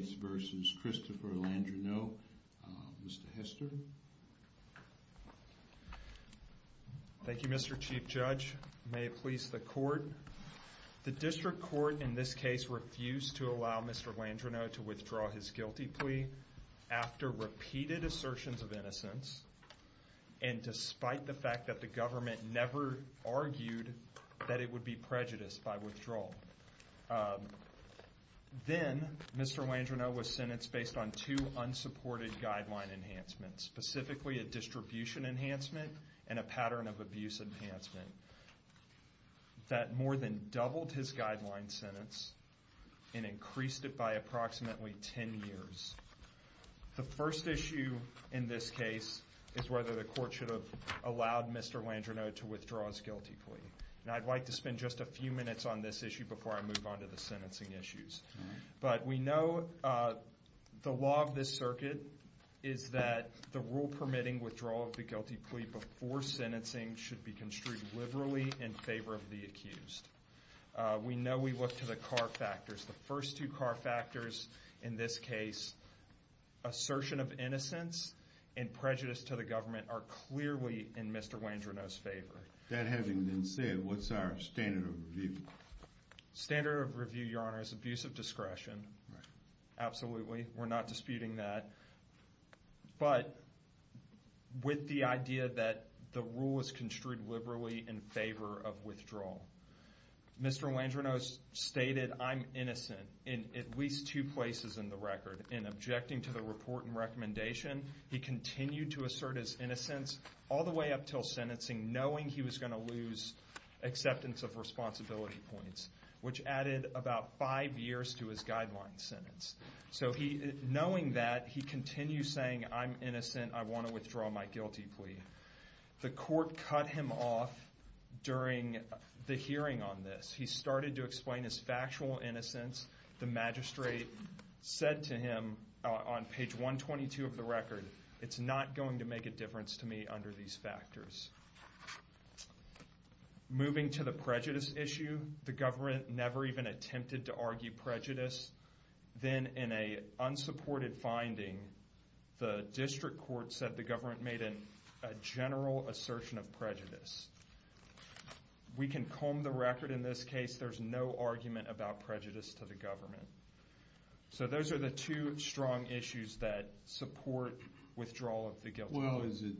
Mr. Hester. Thank you Mr. Chief Judge. May it please the court. The district court in this case refused to allow Mr. Landreneau to withdraw his guilty plea after repeated assertions of innocence and despite the fact that the government never argued that it would be prejudiced by withdrawal. Then Mr. Landreneau was sentenced based on two unsupported guideline enhancements specifically a distribution enhancement and a pattern of abuse enhancement that more than doubled his guideline sentence and increased it by approximately 10 years. The first issue in this case is whether the court should have allowed Mr. Landreneau to withdraw his guilty plea. And I'd like to spend just a few minutes on this issue before I move on to the sentencing issues. But we know the law of this circuit is that the rule permitting withdrawal of the guilty plea before sentencing should be construed liberally in favor of the accused. We know we look to the car factors. The first two car factors in this case assertion of innocence and prejudice to the government are clearly in Mr. Landreneau's favor. That having been said what's our standard of review? Standard of review your honor is abuse of discretion. Absolutely we're not disputing that. But with the idea that the rule is construed liberally in favor of withdrawal. Mr. Landreneau stated I'm innocent in at least two places in the record. In objecting to the report and recommendation he continued to assert his innocence all the way up till sentencing knowing he was going to lose acceptance of responsibility points. Which added about five years to his guideline sentence. So he knowing that he continues saying I'm innocent I want to withdraw my guilty plea. The court cut him off during the hearing on this. He started to explain his factual innocence. The magistrate said to him on page 122 of the record it's not going to make a difference to me under these factors. Moving to the prejudice issue the government never even attempted to argue prejudice. Then in a unsupported finding the district court said the government made a general assertion of prejudice. We can comb the record in this case there's no argument about prejudice to the government. So those are the two strong issues that support withdrawal of the guilty plea. Well is it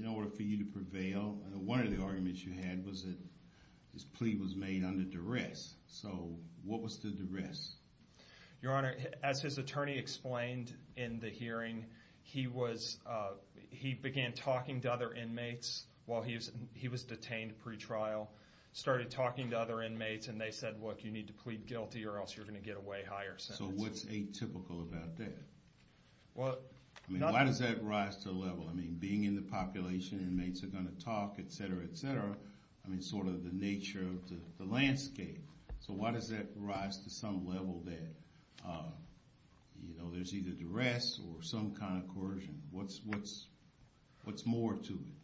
in order for you to prevail one of the arguments you had was that this plea was made under duress. So what was the duress? Your honor as his attorney explained in the hearing he was he began talking to other inmates while he was detained pre-trial. Started talking to other inmates and they said look you need to plead guilty or else you're going to get a way higher sentence. So what's atypical about that? Well I mean why does that rise to a level? I mean being in the population inmates are going to talk etc. etc. I mean sort of the nature of the landscape. So why does that rise to some level that you know there's either duress or some kind of coercion. What's what's what's more to it?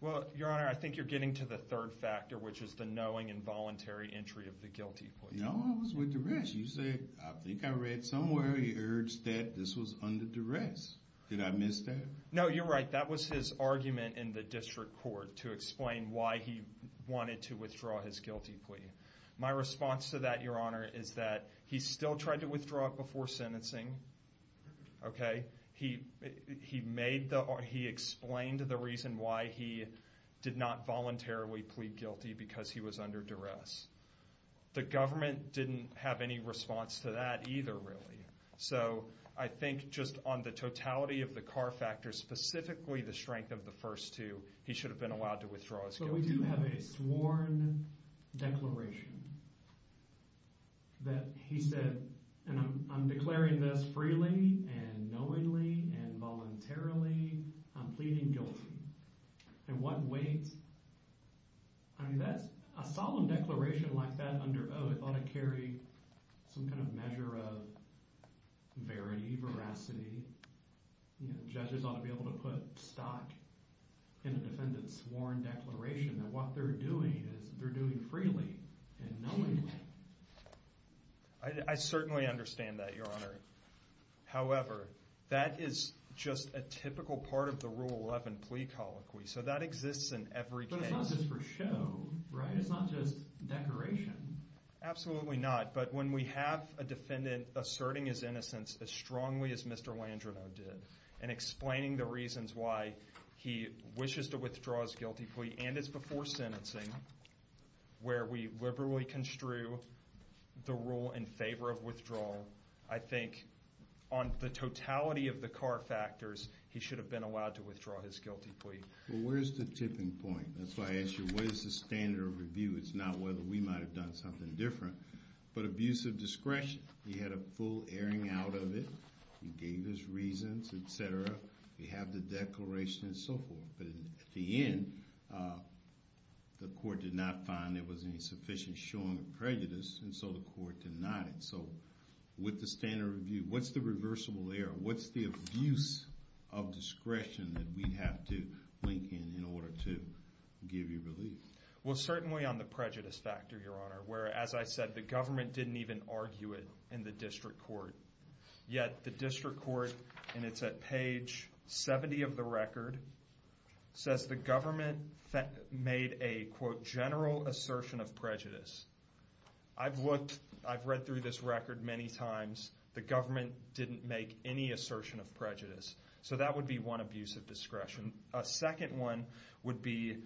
Well your honor I think you're getting to the third factor which is the knowing and voluntary entry of the guilty plea. No I was with duress. You said I think I read somewhere he urged that this was under duress. Did I miss that? No you're right that was his argument in the district court to explain why he wanted to withdraw his guilty plea. My response to that your honor is that he still tried to withdraw it before sentencing. Okay he he made the or he explained the reason why he did not voluntarily plead guilty because he was under duress. The government didn't have any response to that either really. So I think just on the totality of the car factors specifically the strength of the first two he should have been allowed to withdraw. So we do have a sworn declaration that he said I'm declaring this freely and knowingly and voluntarily I'm pleading guilty. And what weight I mean that's a solemn declaration like that under oath ought to carry some kind of measure of verity veracity. You know judges ought to be able to put stock in a defendant's sworn declaration that what they're doing is they're doing freely and knowingly. I certainly understand that your honor however that is just a typical part of the rule 11 plea colloquy so that exists in every case. But it's not just for show right it's not just declaration. Absolutely not but when we have a defendant asserting his innocence as strongly as Mr. Landrino did and explaining the reasons why he wishes to withdraw his guilty plea and it's before sentencing where we liberally construe the rule in favor of withdrawal I think on the totality of the car factors he should have been allowed to withdraw his guilty plea. Well where's the tipping point? That's why I ask you what is the standard of review? It's not whether we might have done something different but abuse of discretion. He had a full airing out of it. He gave his reasons etc. He had the declaration and so forth. But at the end of the day the court did not find there was any sufficient showing of prejudice and so the court denied it. So with the standard review what's the reversible error? What's the abuse of discretion that we have to link in in order to give you relief? Well certainly on the prejudice factor your honor where as I said the government didn't even argue it in the district court. Yet the district court and it's at page 70 of the record says the government made a quote general assertion of prejudice. I've looked I've read through this record many times the government didn't make any assertion of prejudice. So that would be one abuse of discretion. A second one would be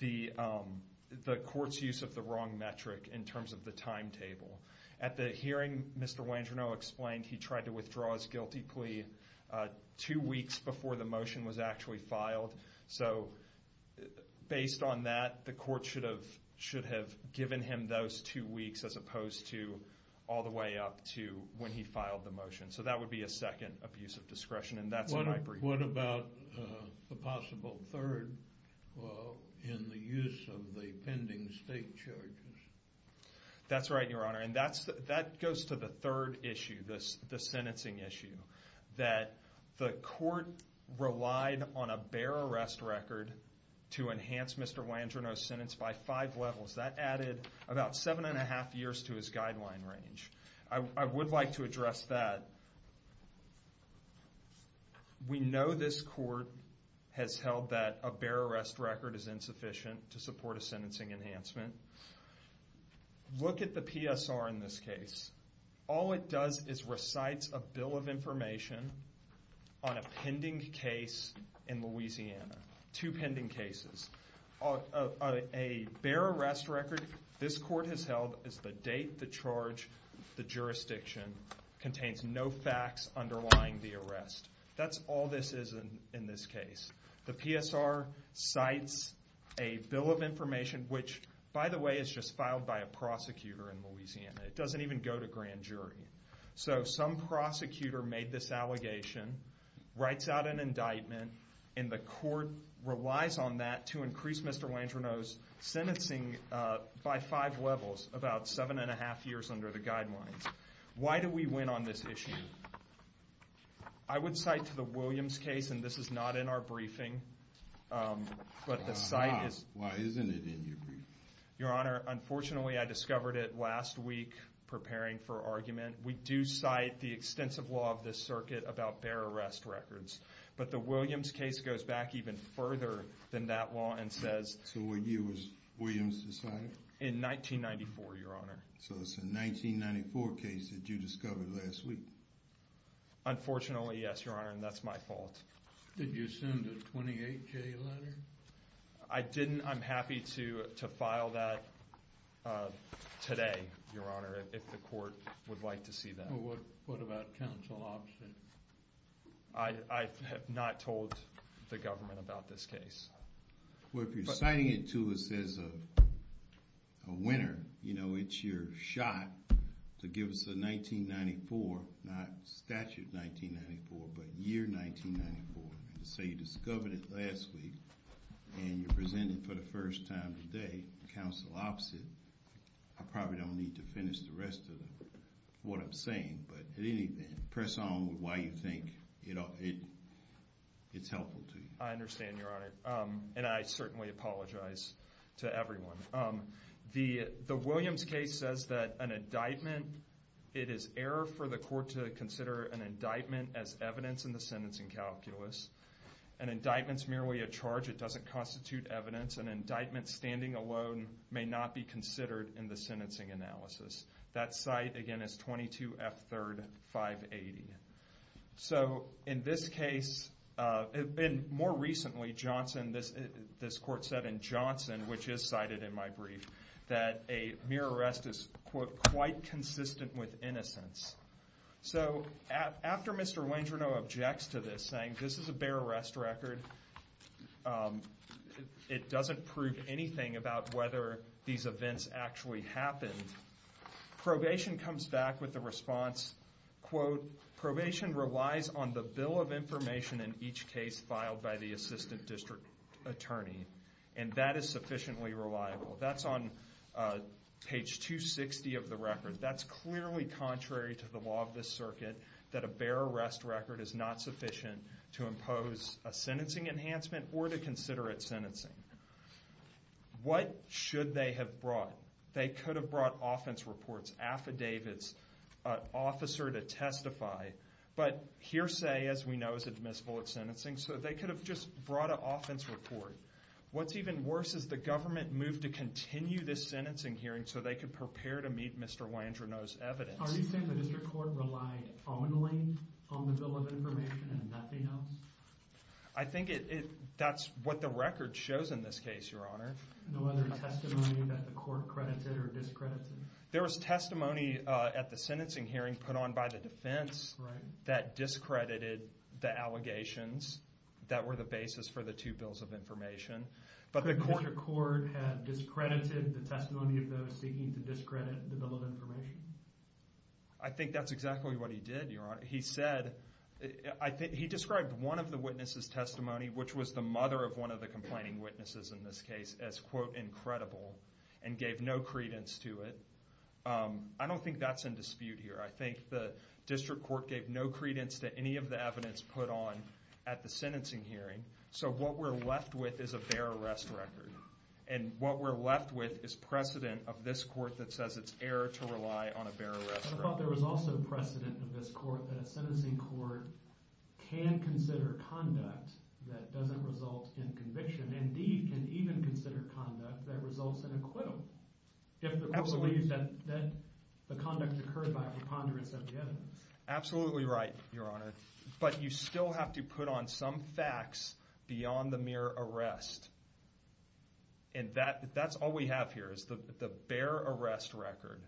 the court's use of the wrong metric in terms of the timetable. At the hearing Mr. Landrino explained he tried to withdraw his guilty plea two weeks before the motion was actually filed. So based on that the court should have should have given him those two weeks as opposed to all the way up to when he filed the motion. So that would be a second abuse of discretion and that's what I believe. What about the possible third in the use of the pending state charges? That's right your honor and that's that goes to the third issue this the sentencing issue. That the court relied on a bare arrest record to enhance Mr. Landrino's sentence by five levels. That added about seven and a half years to his guideline range. I would like to address that. We know this court has held that a bare arrest record is insufficient to support a sentencing enhancement. Look at the PSR in this case. All it does is recites a bill of information on a pending case in Louisiana. Two pending cases. A bare arrest record this court has held is the date, the charge, the jurisdiction contains no facts underlying the arrest. That's all this is in this case. The PSR cites a bill of information which by definition is not sufficient to support a sentencing enhancement. By the way, it's just filed by a prosecutor in Louisiana. It doesn't even go to grand jury. So some prosecutor made this allegation, writes out an indictment, and the court relies on that to increase Mr. Landrino's sentencing by five levels. About seven and a half years under the guidelines. Why do we win on this issue? I would cite to the Williams case and this is not in our briefing, but the site is. Why isn't it in your briefing? Your Honor, unfortunately I discovered it last week preparing for argument. We do cite the extensive law of this circuit about bare arrest records, but the Williams case goes back even further than that law and says. So what year was Williams decided? In 1994, Your Honor. So it's a 1994 case that you discovered last week? Unfortunately, yes, Your Honor, and that's my fault. Did you send a 28-K letter? I didn't. I'm happy to file that today, Your Honor, if the court would like to see that. What about counsel option? I have not told the government about this case. Well, if you're citing it to us as a winner, it's your shot to give us a 1994, not statute 1994, but year 1994. And to say you discovered it last week and you're presenting it for the first time today, counsel opposite, I probably don't need to finish the rest of what I'm saying. But at any rate, press on with why you think it's helpful to you. I understand, Your Honor, and I certainly apologize to everyone. The Williams case says that an indictment, it is error for the court to consider an indictment as evidence in the sentencing calculus. An indictment's merely a charge. It doesn't constitute evidence. An indictment standing alone may not be considered in the sentencing analysis. That site, again, is 22F3, 580. So in this case, and more recently, Johnson, this court said in Johnson, which is cited in my brief, that a mere arrest is, quote, quite consistent with innocence. So after Mr. Landrino objects to this, saying this is a bare arrest record, it doesn't prove anything about whether these events actually happened, probation comes back with the response, quote, probation relies on the bill of information in each case filed by the assistant district attorney. And that is sufficiently reliable. That's on page 260 of the record. That's clearly contrary to the law of this circuit, that a bare arrest record is not sufficient to impose a sentencing enhancement or to consider it sentencing. What should they have brought? They could have brought offense reports, affidavits, an officer to testify. But hearsay, as we know, is admissible at sentencing, so they could have just brought an offense report. What's even worse is the government moved to continue this sentencing hearing so they could prepare to meet Mr. Landrino's evidence. Are you saying the district court relied only on the bill of information and nothing else? I think that's what the record shows in this case, Your Honor. No other testimony that the court credited or discredited? There was testimony at the sentencing hearing put on by the defense that discredited the allegations that were the basis for the two bills of information. Could the district court have discredited the testimony of those seeking to discredit the bill of information? I think that's exactly what he did, Your Honor. He described one of the witnesses' testimony, which was the mother of one of the complaining witnesses in this case, as, quote, incredible and gave no credence to it. I don't think that's in dispute here. I think the district court gave no credence to any of the evidence put on at the sentencing hearing, so what we're left with is a bare arrest record. And what we're left with is precedent of this court that says it's error to rely on a bare arrest record. I thought there was also precedent of this court that a sentencing court can consider conduct that doesn't result in conviction and can even consider conduct that results in acquittal if the court believes that the conduct occurred by preponderance of the evidence. Absolutely right, Your Honor. But you still have to put on some facts beyond the mere arrest. And that's all we have here is the bare arrest record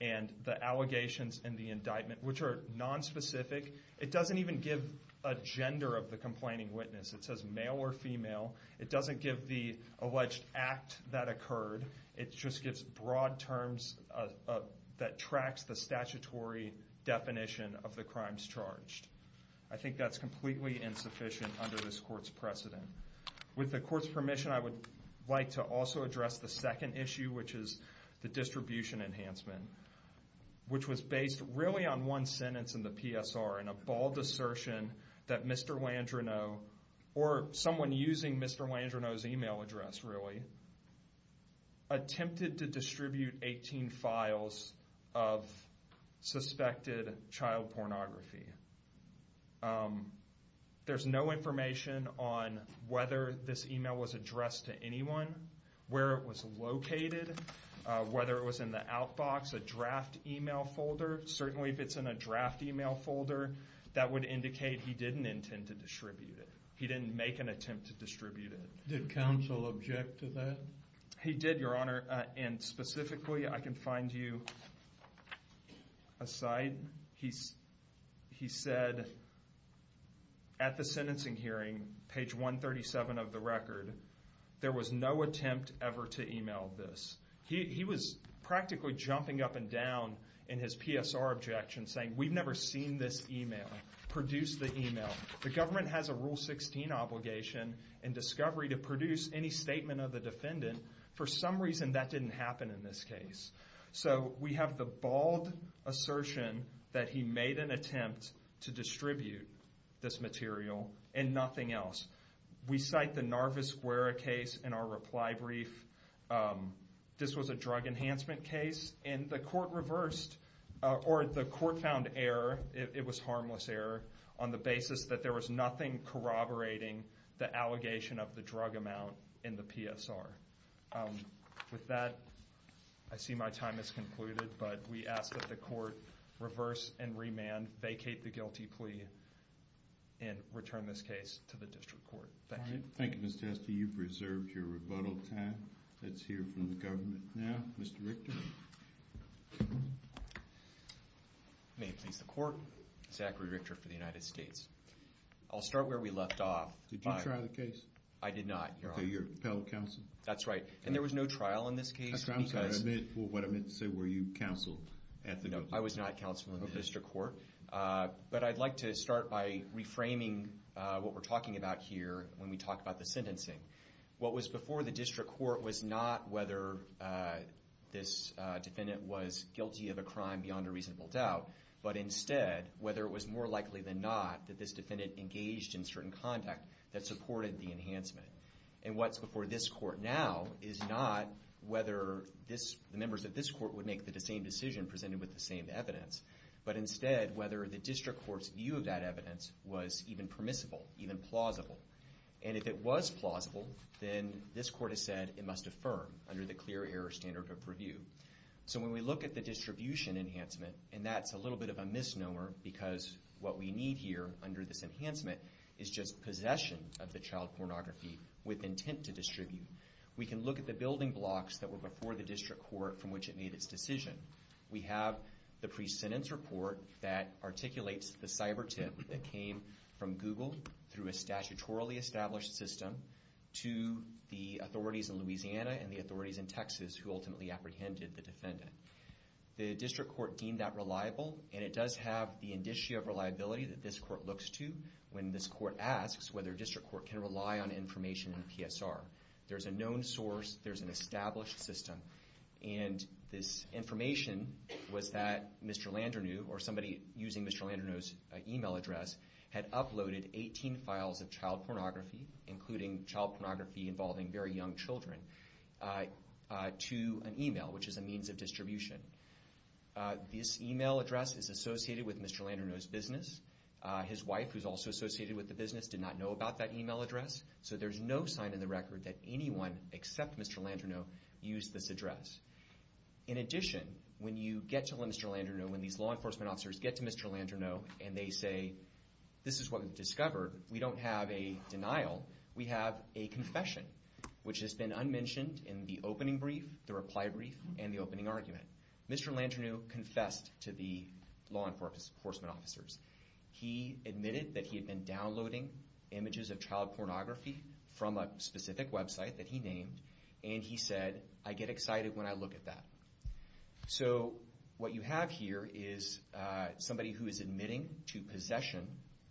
and the allegations and the indictment, which are nonspecific. It doesn't even give a gender of the complaining witness. It says male or female. It doesn't give the alleged act that occurred. It just gives broad terms that tracks the statutory definition of the crimes charged. I think that's completely insufficient under this court's precedent. With the court's permission, I would like to also address the second issue, which is the distribution enhancement, which was based really on one sentence in the PSR and a bald assertion that Mr. Landrenau or someone using Mr. Landrenau's email address, really, attempted to distribute 18 files of suspected child pornography. There's no information on whether this email was addressed to anyone, where it was located, whether it was in the outbox, a draft email folder. Certainly if it's in a draft email folder, that would indicate he didn't intend to distribute it. He didn't make an attempt to distribute it. Did counsel object to that? He did, Your Honor, and specifically I can find you a site. He said at the sentencing hearing, page 137 of the record, there was no attempt ever to email this. He was practically jumping up and down in his PSR objection, saying we've never seen this email, produced the email. The government has a Rule 16 obligation in discovery to produce any statement of the defendant. For some reason, that didn't happen in this case. So we have the bald assertion that he made an attempt to distribute this material and nothing else. We cite the Narvaz Guerra case in our reply brief. This was a drug enhancement case, and the court reversed, or the court found error. It was harmless error on the basis that there was nothing corroborating the allegation of the drug amount in the PSR. With that, I see my time has concluded, but we ask that the court reverse and remand, vacate the guilty plea, and return this case to the district court. Thank you. Thank you, Mr. Esty. You've reserved your rebuttal time. Let's hear from the government now. Mr. Richter. May it please the court, Zachary Richter for the United States. I'll start where we left off. Did you try the case? I did not, Your Honor. To your appellate counsel? That's right, and there was no trial in this case. I'm sorry. What I meant to say, were you counsel at the district court? No, I was not counsel in the district court. But I'd like to start by reframing what we're talking about here when we talk about the sentencing. What was before the district court was not whether this defendant was guilty of a crime beyond a reasonable doubt, but instead whether it was more likely than not that this defendant engaged in certain conduct that supported the enhancement. And what's before this court now is not whether the members of this court would make the same decision presented with the same evidence, but instead whether the district court's view of that evidence was even permissible, even plausible. And if it was plausible, then this court has said it must affirm under the clear error standard of review. So when we look at the distribution enhancement, and that's a little bit of a misnomer, because what we need here under this enhancement is just possession of the child pornography with intent to distribute. We can look at the building blocks that were before the district court from which it made its decision. We have the pre-sentence report that articulates the cyber tip that came from Google through a statutorily established system to the authorities in Louisiana and the authorities in Texas who ultimately apprehended the defendant. The district court deemed that reliable, and it does have the indicia of reliability that this court looks to when this court asks whether a district court can rely on information in PSR. There's a known source. There's an established system. And this information was that Mr. Landrenau, or somebody using Mr. Landrenau's e-mail address, had uploaded 18 files of child pornography, including child pornography involving very young children, to an e-mail, which is a means of distribution. This e-mail address is associated with Mr. Landrenau's business. His wife, who's also associated with the business, did not know about that e-mail address. So there's no sign in the record that anyone except Mr. Landrenau used this address. In addition, when you get to Mr. Landrenau, when these law enforcement officers get to Mr. Landrenau, and they say, this is what we've discovered, we don't have a denial. We have a confession, which has been unmentioned in the opening brief, the reply brief, and the opening argument. Mr. Landrenau confessed to the law enforcement officers. He admitted that he had been downloading images of child pornography from a specific website that he named, and he said, I get excited when I look at that. So what you have here is somebody who is admitting to possession,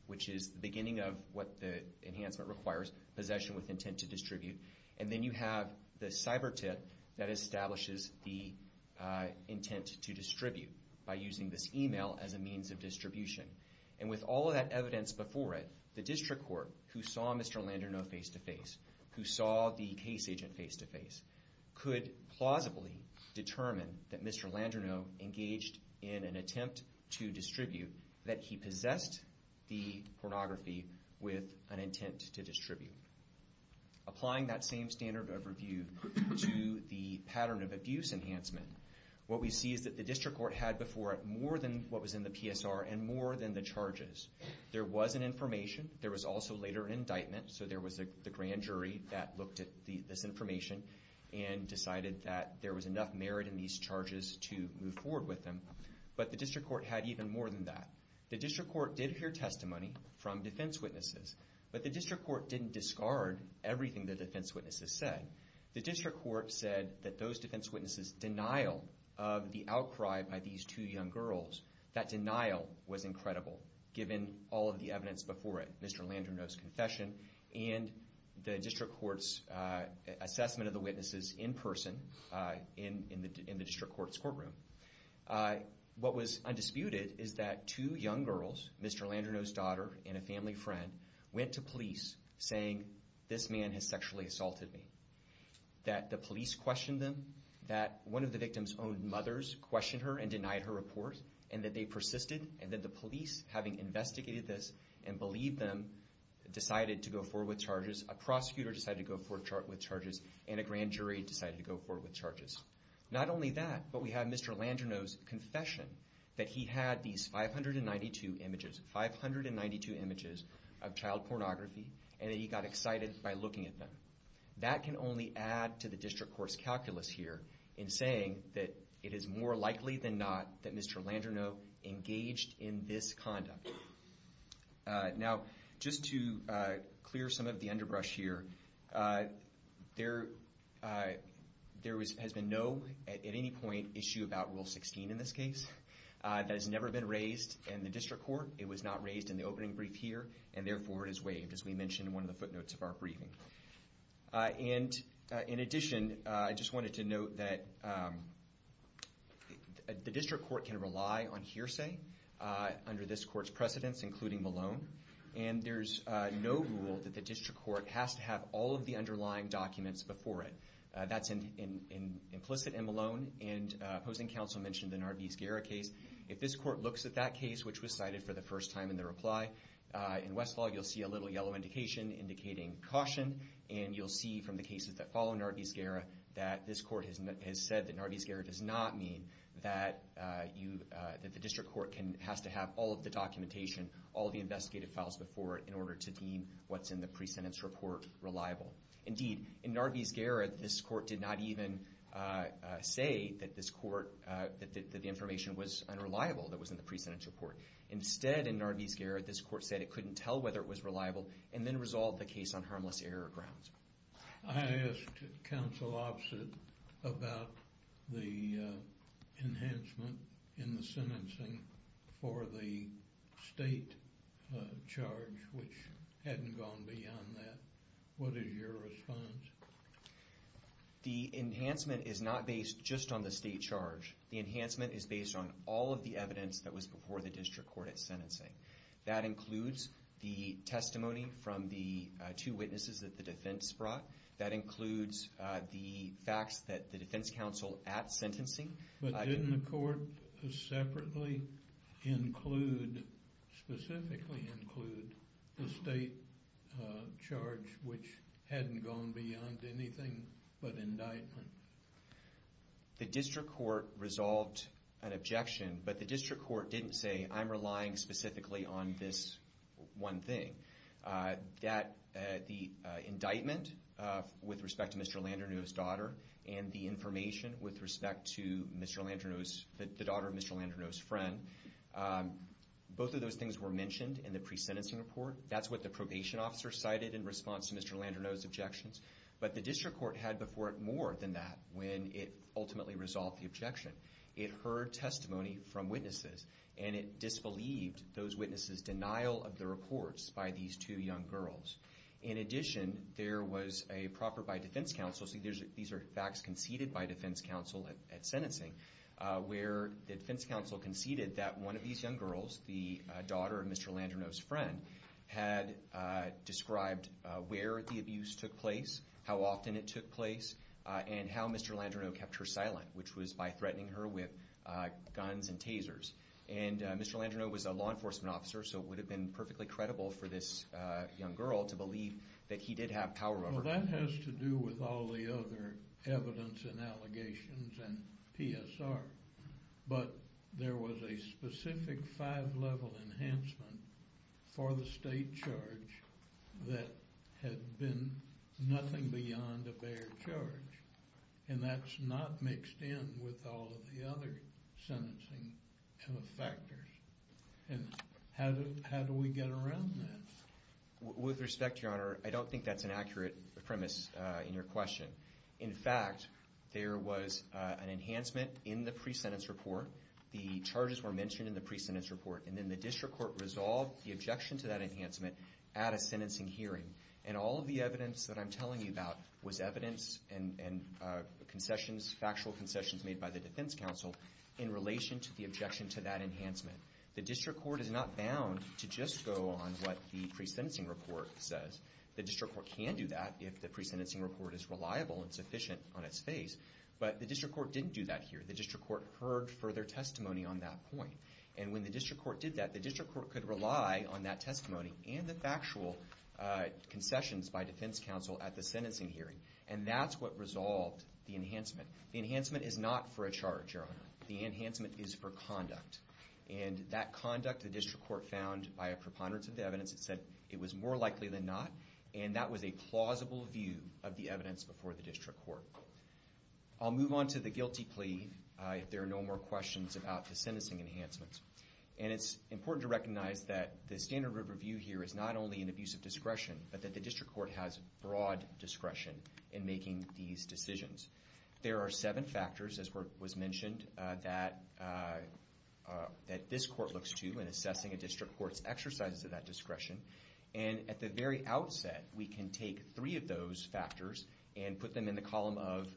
which is the beginning of what the enhancement requires, possession with intent to distribute. And then you have the cyber tip that establishes the intent to distribute by using this e-mail as a means of distribution. And with all of that evidence before it, the district court, who saw Mr. Landrenau face-to-face, who saw the case agent face-to-face, could plausibly determine that Mr. Landrenau engaged in an attempt to distribute, that he possessed the pornography with an intent to distribute. Applying that same standard of review to the pattern of abuse enhancement, what we see is that the district court had before it more than what was in the PSR and more than the charges. There was an information, there was also later an indictment, so there was the grand jury that looked at this information and decided that there was enough merit in these charges to move forward with them, but the district court had even more than that. The district court did hear testimony from defense witnesses, but the district court didn't discard everything the defense witnesses said. The district court said that those defense witnesses' denial of the outcry by these two young girls, that denial was incredible given all of the evidence before it, Mr. Landrenau's confession and the district court's assessment of the witnesses in person in the district court's courtroom. What was undisputed is that two young girls, Mr. Landrenau's daughter and a family friend, went to police saying, this man has sexually assaulted me. That the police questioned them, that one of the victim's own mothers questioned her and denied her report, and that they persisted, and that the police, having investigated this and believed them, decided to go forward with charges, a prosecutor decided to go forward with charges, and a grand jury decided to go forward with charges. Not only that, but we have Mr. Landrenau's confession that he had these 592 images, 592 images of child pornography, and that he got excited by looking at them. That can only add to the district court's calculus here in saying that it is more likely than not that Mr. Landrenau engaged in this conduct. Now, just to clear some of the underbrush here, there has been no, at any point, issue about Rule 16 in this case that has never been raised in the district court. It was not raised in the opening brief here, and therefore it is waived, as we mentioned in one of the footnotes of our briefing. And in addition, I just wanted to note that the district court can rely on hearsay under this court's precedence, including Malone, and there's no rule that the district court has to have all of the underlying documents before it. That's implicit in Malone, and opposing counsel mentioned the Narbiz-Guerra case. If this court looks at that case, which was cited for the first time in the reply, in Westfall you'll see a little yellow indication indicating caution, and you'll see from the cases that follow Narbiz-Guerra that this court has said that Narbiz-Guerra does not mean that the district court has to have all of the documentation, all of the investigative files before it, in order to deem what's in the pre-sentence report reliable. Indeed, in Narbiz-Guerra, this court did not even say that this court, that the information was unreliable that was in the pre-sentence report. Instead, in Narbiz-Guerra, this court said it couldn't tell whether it was reliable, and then resolved the case on harmless error grounds. I asked counsel opposite about the enhancement in the sentencing for the state charge, which hadn't gone beyond that. What is your response? The enhancement is not based just on the state charge. The enhancement is based on all of the evidence that was before the district court at sentencing. That includes the testimony from the two witnesses that the defense brought. That includes the facts that the defense counsel at sentencing... But didn't the court separately include, specifically include, the state charge which hadn't gone beyond anything but indictment? The district court resolved an objection, but the district court didn't say, I'm relying specifically on this one thing. The indictment with respect to Mr. Landerneau's daughter, and the information with respect to the daughter of Mr. Landerneau's friend, both of those things were mentioned in the pre-sentencing report. That's what the probation officer cited in response to Mr. Landerneau's objections. But the district court had before it more than that when it ultimately resolved the objection. It heard testimony from witnesses, and it disbelieved those witnesses' denial of the reports by these two young girls. In addition, there was a proper by defense counsel, so these are facts conceded by defense counsel at sentencing, where the defense counsel conceded that one of these young girls, the daughter of Mr. Landerneau's friend, had described where the abuse took place, how often it took place, and how Mr. Landerneau kept her silent, which was by threatening her with guns and tasers. Mr. Landerneau was a law enforcement officer, so it would have been perfectly credible for this young girl to believe that he did have power over her. That has to do with all the other evidence and allegations and PSR, but there was a specific five-level enhancement for the state charge that had been nothing beyond a bare charge, and that's not mixed in with all of the other sentencing factors. And how do we get around that? With respect, Your Honor, I don't think that's an accurate premise in your question. In fact, there was an enhancement in the pre-sentence report. The charges were mentioned in the pre-sentence report, and then the district court resolved the objection to that enhancement at a sentencing hearing, and all of the evidence that I'm telling you about was evidence and concessions, factual concessions made by the defense counsel in relation to the objection to that enhancement. The district court is not bound to just go on what the pre-sentencing report says. The district court can do that if the pre-sentencing report is reliable and sufficient on its face, but the district court didn't do that here. The district court heard further testimony on that point, and when the district court did that, the district court could rely on that testimony and the factual concessions by defense counsel at the sentencing hearing, and that's what resolved the enhancement. The enhancement is not for a charge, Your Honor. The enhancement is for conduct, and that conduct the district court found by a preponderance of the evidence, it said it was more likely than not, and that was a plausible view of the evidence before the district court. I'll move on to the guilty plea if there are no more questions about the sentencing enhancements, and it's important to recognize that the standard of review here is not only an abuse of discretion, but that the district court has broad discretion in making these decisions. There are seven factors, as was mentioned, that this court looks to in assessing a district court's exercises of that discretion, and at the very outset, we can take three of those factors and put them in the column of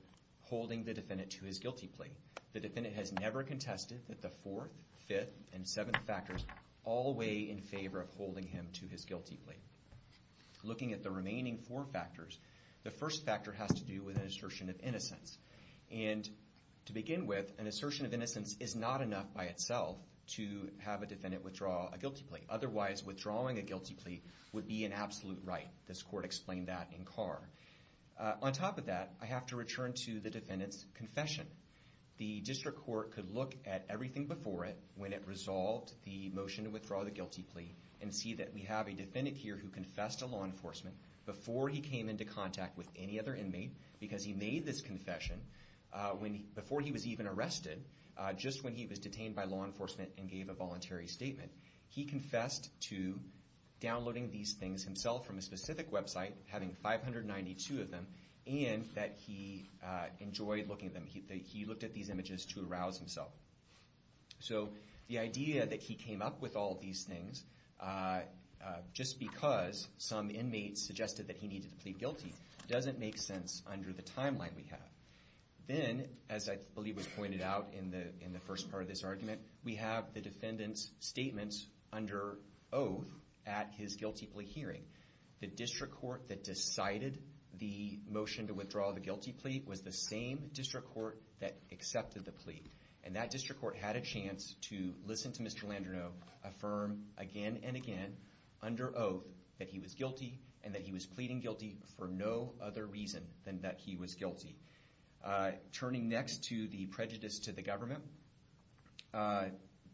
holding the defendant to his guilty plea. The defendant has never contested the fourth, fifth, and seventh factors all the way in favor of holding him to his guilty plea. Looking at the remaining four factors, the first factor has to do with an assertion of innocence, and to begin with, an assertion of innocence is not enough by itself to have a defendant withdraw a guilty plea. Otherwise, withdrawing a guilty plea would be an absolute right. This court explained that in Carr. On top of that, I have to return to the defendant's confession. The district court could look at everything before it when it resolved the motion to withdraw the guilty plea and see that we have a defendant here who confessed to law enforcement before he came into contact with any other inmate because he made this confession before he was even arrested, just when he was detained by law enforcement and gave a voluntary statement. He confessed to downloading these things himself from a specific website, having 592 of them, and that he enjoyed looking at them. He looked at these images to arouse himself. So the idea that he came up with all these things just because some inmate suggested that he needed to plead guilty doesn't make sense under the timeline we have. Then, as I believe was pointed out in the first part of this argument, we have the defendant's statements under oath at his guilty plea hearing. The district court that decided the motion to withdraw the guilty plea was the same district court that accepted the plea. And that district court had a chance to listen to Mr. Landroneau affirm again and again under oath that he was guilty and that he was pleading guilty for no other reason than that he was guilty. Turning next to the prejudice to the government,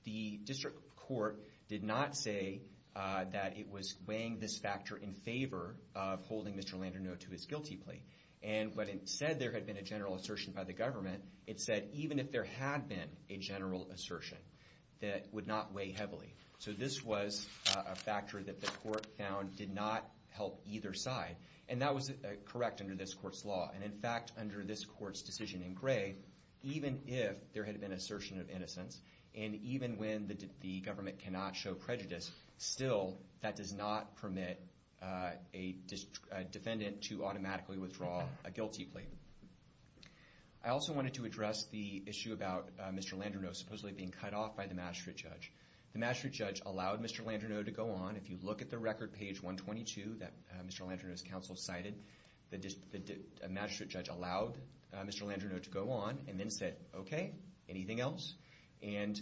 the district court did not say that it was weighing this factor in favor of holding Mr. Landroneau to his guilty plea. And when it said there had been a general assertion by the government, it said even if there had been a general assertion, that it would not weigh heavily. So this was a factor that the court found did not help either side. And that was correct under this court's law. And in fact, under this court's decision in Gray, even if there had been an assertion of innocence and even when the government cannot show prejudice, still that does not permit a defendant to automatically withdraw a guilty plea. I also wanted to address the issue about Mr. Landroneau supposedly being cut off by the Mass Street judge. The Mass Street judge allowed Mr. Landroneau to go on. If you look at the record page 122 that Mr. Landroneau's counsel cited, the Mass Street judge allowed Mr. Landroneau to go on and then said, okay, anything else? And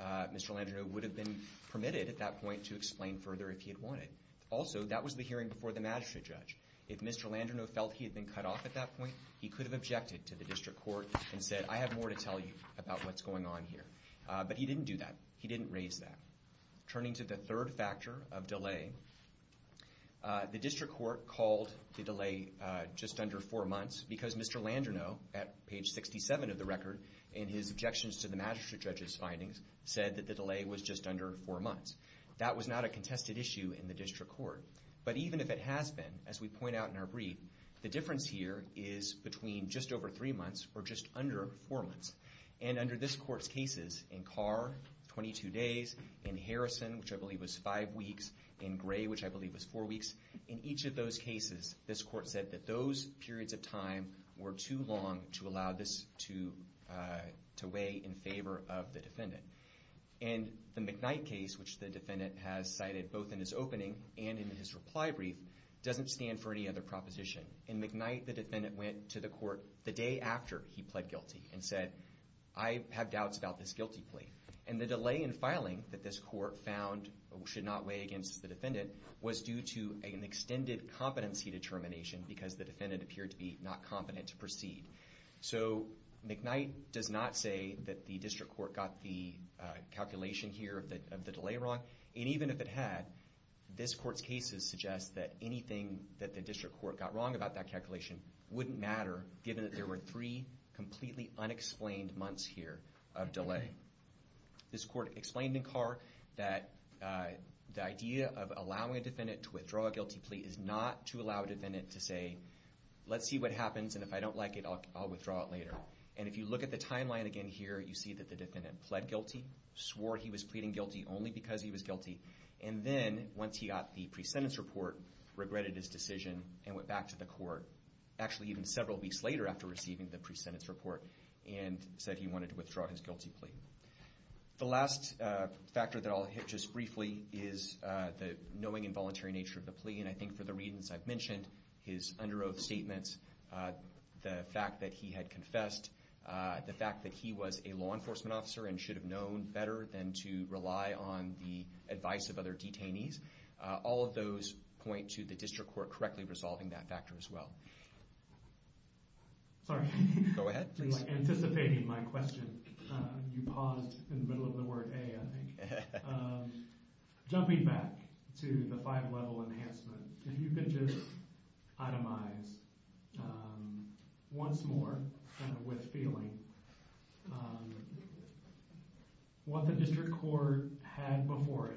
Mr. Landroneau would have been permitted at that point to explain further if he had wanted. Also, that was the hearing before the Mass Street judge. If Mr. Landroneau felt he had been cut off at that point, he could have objected to the district court and said, I have more to tell you about what's going on here. But he didn't do that. He didn't raise that. Turning to the third factor of delay, the district court called the delay just under four months because Mr. Landroneau at page 67 of the record in his objections to the Mass Street judge's findings said that the delay was just under four months. That was not a contested issue in the district court. But even if it has been, as we point out in our brief, the difference here is between just over three months or just under four months. And under this court's cases, in Carr, 22 days, in Harrison, which I believe was five weeks, in Gray, which I believe was four weeks, in each of those cases, this court said that those periods of time were too long to allow this to weigh in favor of the defendant. And the McKnight case, which the defendant has cited both in his opening and in his reply brief, doesn't stand for any other proposition. In McKnight, the defendant went to the court the day after he pled guilty and said, I have doubts about this guilty plea. And the delay in filing that this court found should not weigh against the defendant was due to an extended competency determination because the defendant appeared to be not competent to proceed. So McKnight does not say that the district court got the calculation here of the delay wrong. And even if it had, this court's cases suggest that anything that the district court got wrong about that calculation wouldn't matter given that there were three completely unexplained months here of delay. This court explained in Carr that the idea of allowing a defendant to withdraw a guilty plea is not to allow a defendant to say, let's see what happens, and if I don't like it, I'll withdraw it later. And if you look at the timeline again here, you see that the defendant pled guilty, swore he was pleading guilty only because he was guilty, and then, once he got the pre-sentence report, regretted his decision and went back to the court, actually even several weeks later after receiving the pre-sentence report and said he wanted to withdraw his guilty plea. The last factor that I'll hit just briefly is the knowing involuntary nature of the plea. And I think for the reasons I've mentioned, his under oath statements, the fact that he had confessed, the fact that he was a law enforcement officer and should have known better than to rely on the advice of other detainees, all of those point to the district court correctly resolving that factor as well. Sorry. Go ahead, please. Anticipating my question, you paused in the middle of the word a, I think. Jumping back to the five level enhancement, if you could just itemize once more with feeling what the district court had before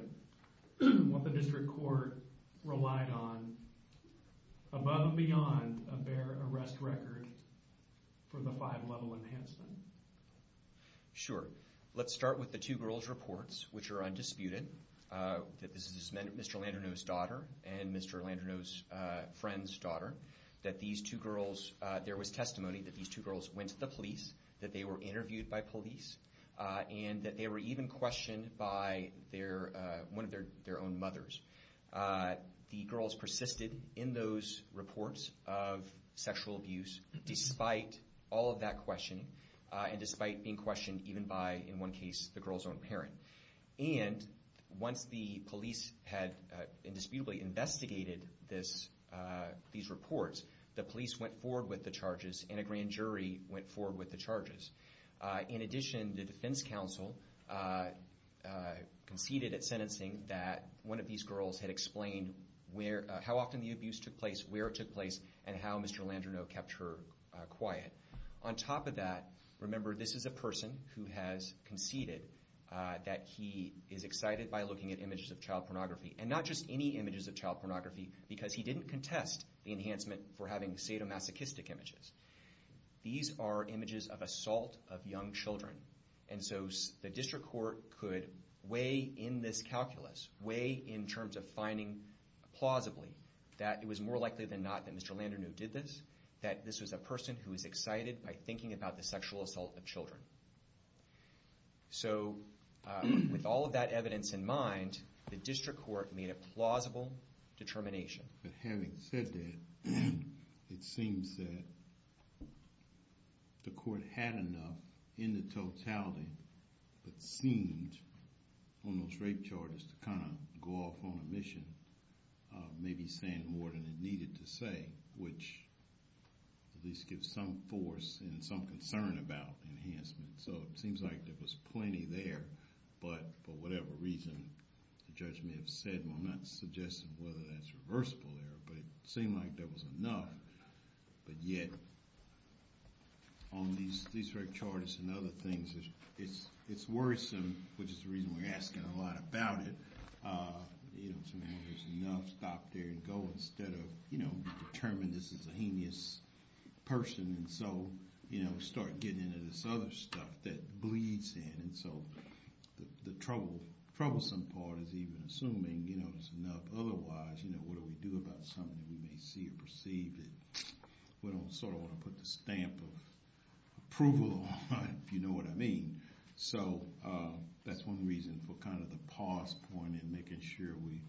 it, what the district court relied on above and beyond a bare arrest record for the five level enhancement. Sure. Let's start with the two girls' reports, which are undisputed, that this is Mr. Landerneau's daughter and Mr. Landerneau's friend's daughter, that these two girls, there was testimony that these two girls went to the police, that they were interviewed by police, and that they were even questioned by one of their own mothers. The girls persisted in those reports of sexual abuse despite all of that questioning and despite being questioned even by, in one case, the girl's own parent. And once the police had indisputably investigated these reports, the police went forward with the charges and a grand jury went forward with the charges. In addition, the defense counsel conceded at sentencing that one of these girls had explained how often the abuse took place, where it took place, and how Mr. Landerneau kept her quiet. On top of that, remember this is a person who has conceded that he is excited by looking at images of child pornography, and not just any images of child pornography because he didn't contest the enhancement for having sadomasochistic images. These are images of assault of young children. And so the district court could weigh in this calculus, weigh in terms of finding plausibly that it was more likely than not that Mr. Landerneau did this, that this was a person who was excited by thinking about the sexual assault of children. So with all of that evidence in mind, the district court made a plausible determination. But having said that, it seems that the court had enough in the totality that seemed on those rape charges to kind of go off on a mission of maybe saying more than it needed to say, which at least gives some force and some concern about enhancement. So it seems like there was plenty there, but for whatever reason, the judge may have said, well, I'm not suggesting whether that's reversible there, but it seemed like there was enough. But yet, on these rape charges and other things, it's worrisome, which is the reason we're asking a lot about it. You know, there's enough. Stop there and go instead of, you know, determine this is a heinous person. And so, you know, start getting into this other stuff that bleeds in. And so the troublesome part is even assuming, you know, there's enough. Otherwise, you know, what do we do about something that we may see or perceive that we don't sort of want to put the stamp of approval on, if you know what I mean. So that's one reason for kind of the pause point in making sure we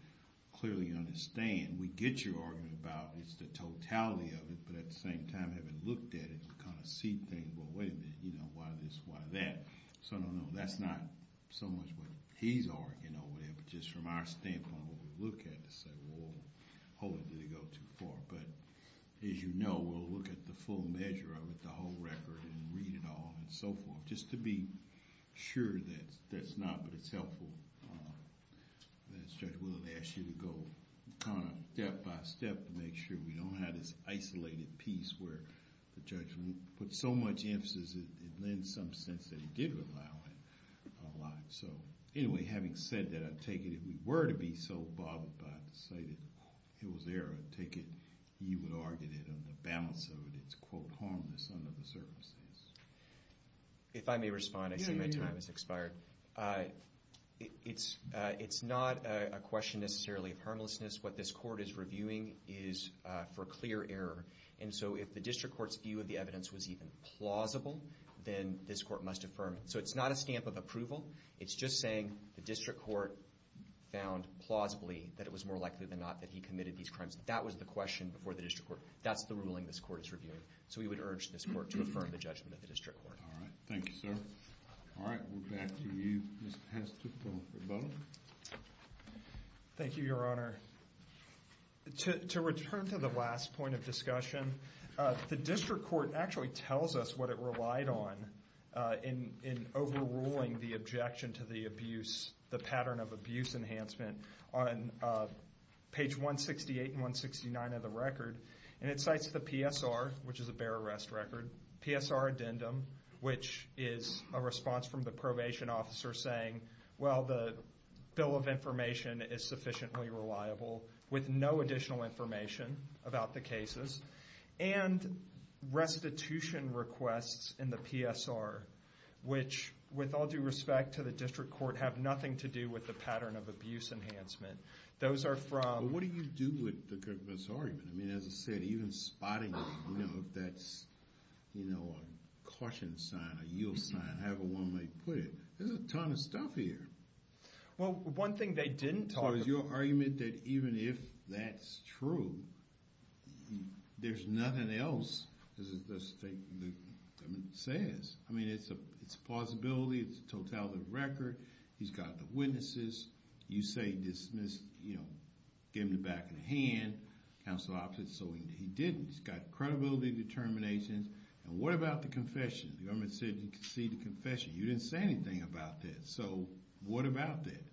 clearly understand. We get your argument about it's the totality of it, but at the same time, having looked at it, we kind of see things, well, wait a minute, you know, why this, why that? So no, no, that's not so much what he's arguing or whatever, just from our standpoint, what we look at to say, well, hold it, did it go too far? But as you know, we'll look at the full measure of it, the whole record, and read it all, and so forth, just to be sure that that's not, but it's helpful. Judge Willard asked you to go kind of step by step to make sure we don't have this isolated piece where the judge put so much emphasis, it lends some sense that he did allow it a lot. So anyway, having said that, I take it if we were to be so bothered by it, say that it was there, I take it you would argue that on the balance of it, it's quote harmless under the circumstances. If I may respond, I see my time has expired. It's not a question necessarily of harmlessness. What this court is reviewing is for clear error, and so if the district court's view of the evidence was even plausible, then this court must affirm it. So it's not a stamp of approval. It's just saying the district court found plausibly that it was more likely than not that he committed these crimes. That was the question before the district court. That's the ruling this court is reviewing. So we would urge this court to affirm the judgment of the district court. All right. Thank you, sir. All right. We're back to you, Mr. Heston, for both. Thank you, Your Honor. To return to the last point of discussion, the district court actually tells us what it relied on in overruling the objection to the abuse, the pattern of abuse enhancement, on page 168 and 169 of the record, and it cites the PSR, which is a bare arrest record, PSR addendum, which is a response from the probation officer saying, well, the bill of information is sufficiently reliable with no additional information about the cases, and restitution requests in the PSR, which, with all due respect to the district court, have nothing to do with the pattern of abuse enhancement. Those are from... Well, what do you do with this argument? I mean, as I said, even spotting, you know, if that's, you know, a caution sign, a yield sign, however one may put it, there's a ton of stuff here. Well, one thing they didn't talk about... So is your argument that even if that's true, there's nothing else, as the statement says? I mean, it's a possibility, it's a totality of the record, he's got the witnesses, you say he dismissed, you know, gave him the back of the hand, counsel opposite, so he didn't. He's got credibility determinations, and what about the confession? The government said he conceded the confession. You didn't say anything so what about that?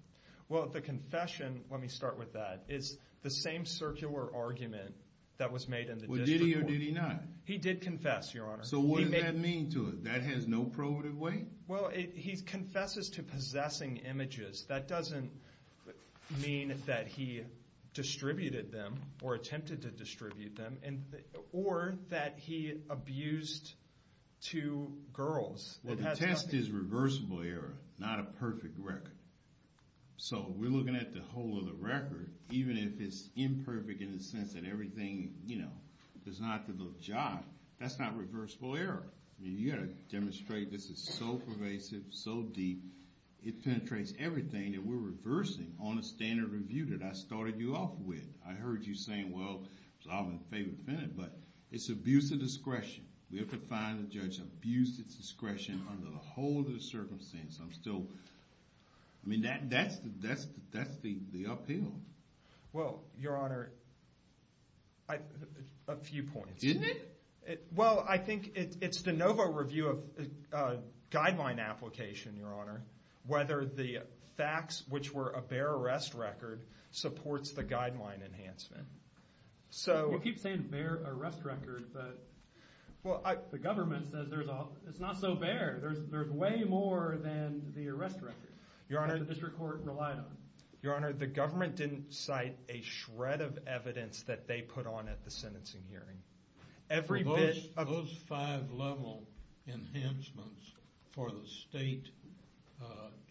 Well, the confession, let me start with that, is the same circular argument that was made in the district court. Did he or did he not? He did confess, Your Honor. So what does that mean to us? That has no probative weight? Well, he confesses to possessing images, that doesn't mean that he distributed them, or attempted to distribute them, or that he abused two girls. Well, the test is reversible error, not a perfect record. So we're looking at the whole of the record, even if it's imperfect in the sense that everything, you know, does not have to look job, that's not reversible error. You've got to demonstrate this is so pervasive, so deep, it penetrates everything that we're reversing on a standard review that I started you off with. I heard you saying, well, I'm in favor of defendant, but it's abuse of discretion. We have to find a judge who abused his discretion under the whole of the circumstance. I'm still, I mean, that's the appeal. Well, Your Honor, a few points. Isn't it? Well, I think it's the NOVA review of guideline application, Your Honor, whether the facts, which were a bare arrest record, supports the guideline enhancement. You keep saying bare arrest record, but the government says it's not so bare. There's way more than the arrest record that the district court relied on. Your Honor, the government didn't cite a shred of evidence that they put on at the sentencing hearing. Those five level enhancements for the state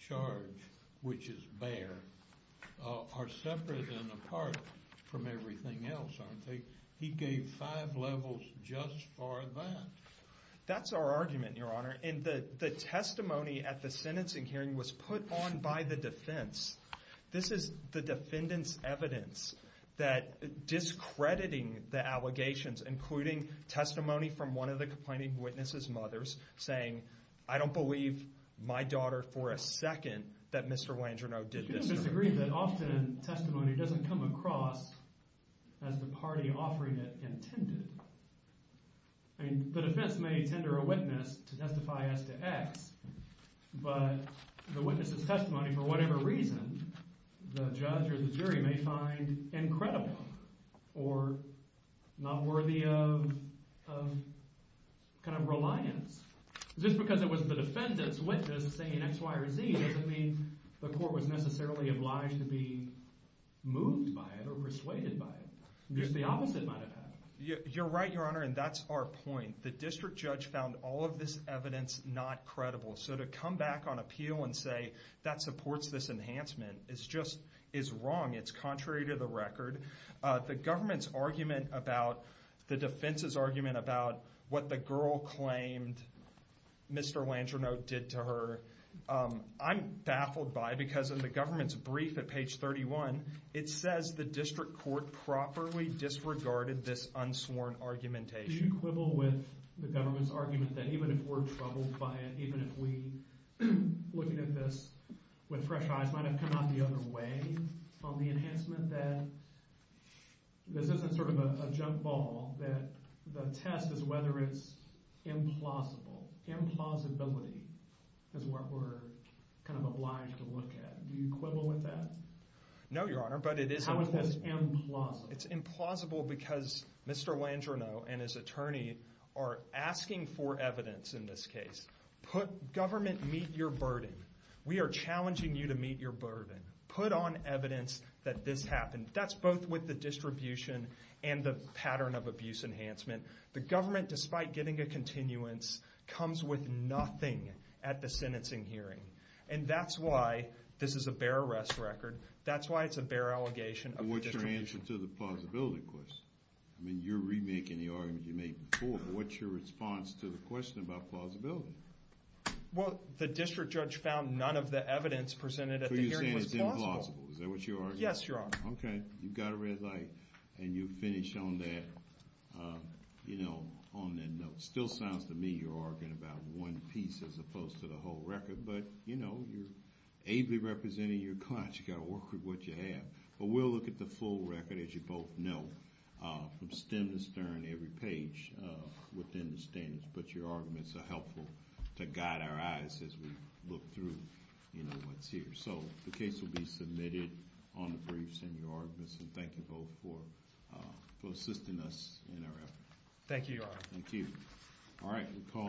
charge, which is bare, are separate and apart from everything else, aren't they? He gave five levels just for that. That's our argument, Your Honor, and the testimony at the sentencing hearing was put on by the defense. This is the defendant's evidence that discrediting the allegations, including testimony from one of the complaining witnesses' mothers, saying, I don't believe my daughter for a second that Mr. Wangerno did this to her. You can disagree that often testimony doesn't come across as the party offering it intended. I mean, the defense may tender a witness to testify as to X, but the witness's testimony, for whatever reason, the judge or the jury may find incredible or not worthy of kind of reliance. Just because it was the defendant's witness saying X, Y, or Z doesn't mean the court was necessarily obliged to be moved by it or persuaded by it. Just the opposite might have happened. You're right, Your Honor, and that's our point. The district judge found all of this evidence not credible, so to come back on appeal and say that supports this enhancement is wrong. It's contrary to the record. The government's argument about the defense's argument about what the girl claimed Mr. Wangerno did to her, I'm baffled by because in the government's brief at page 31, it says the district court properly disregarded this unsworn argumentation. Do you quibble with the government's argument that even if we're troubled by it, even if we, looking at this with fresh eyes, might have come out the other way on the enhancement, that this isn't sort of a jump ball, that the test is whether it's implausible. Implausibility is what we're kind of obliged to look at. Do you quibble with that? No, Your Honor, but it is... How is this implausible? It's implausible because Mr. Wangerno and his attorney are asking for evidence in this case, put government meet your burden. We are challenging you to meet your burden. Put on evidence that this happened. That's both with the distribution and the pattern of abuse enhancement. The government, despite getting a continuance, comes with nothing at the sentencing hearing. And that's why this is a bare arrest record. That's why it's a bare allegation. What's your answer to the plausibility question? I mean, you're remaking the argument you made before, but what's your response to the question about plausibility? Well, the district judge found none of the evidence presented at the hearing was plausible. So you're saying it's implausible. Is that what you're arguing? Yes, Your Honor. Okay, you've got a red light and you've finished on that, you know, on that note. Still sounds to me you're arguing about one piece as opposed to the whole record, but, you know, you're ably representing your client. You've got to work with what you have. But we'll look at the full record, as you both know, from stem to stern, every page within the standards. But your arguments are helpful to guide our eyes as we look through, you know, what's here. So the case will be submitted on the briefs and your arguments, and thank you both for assisting us in our effort. Thank you, Your Honor. Thank you. All right.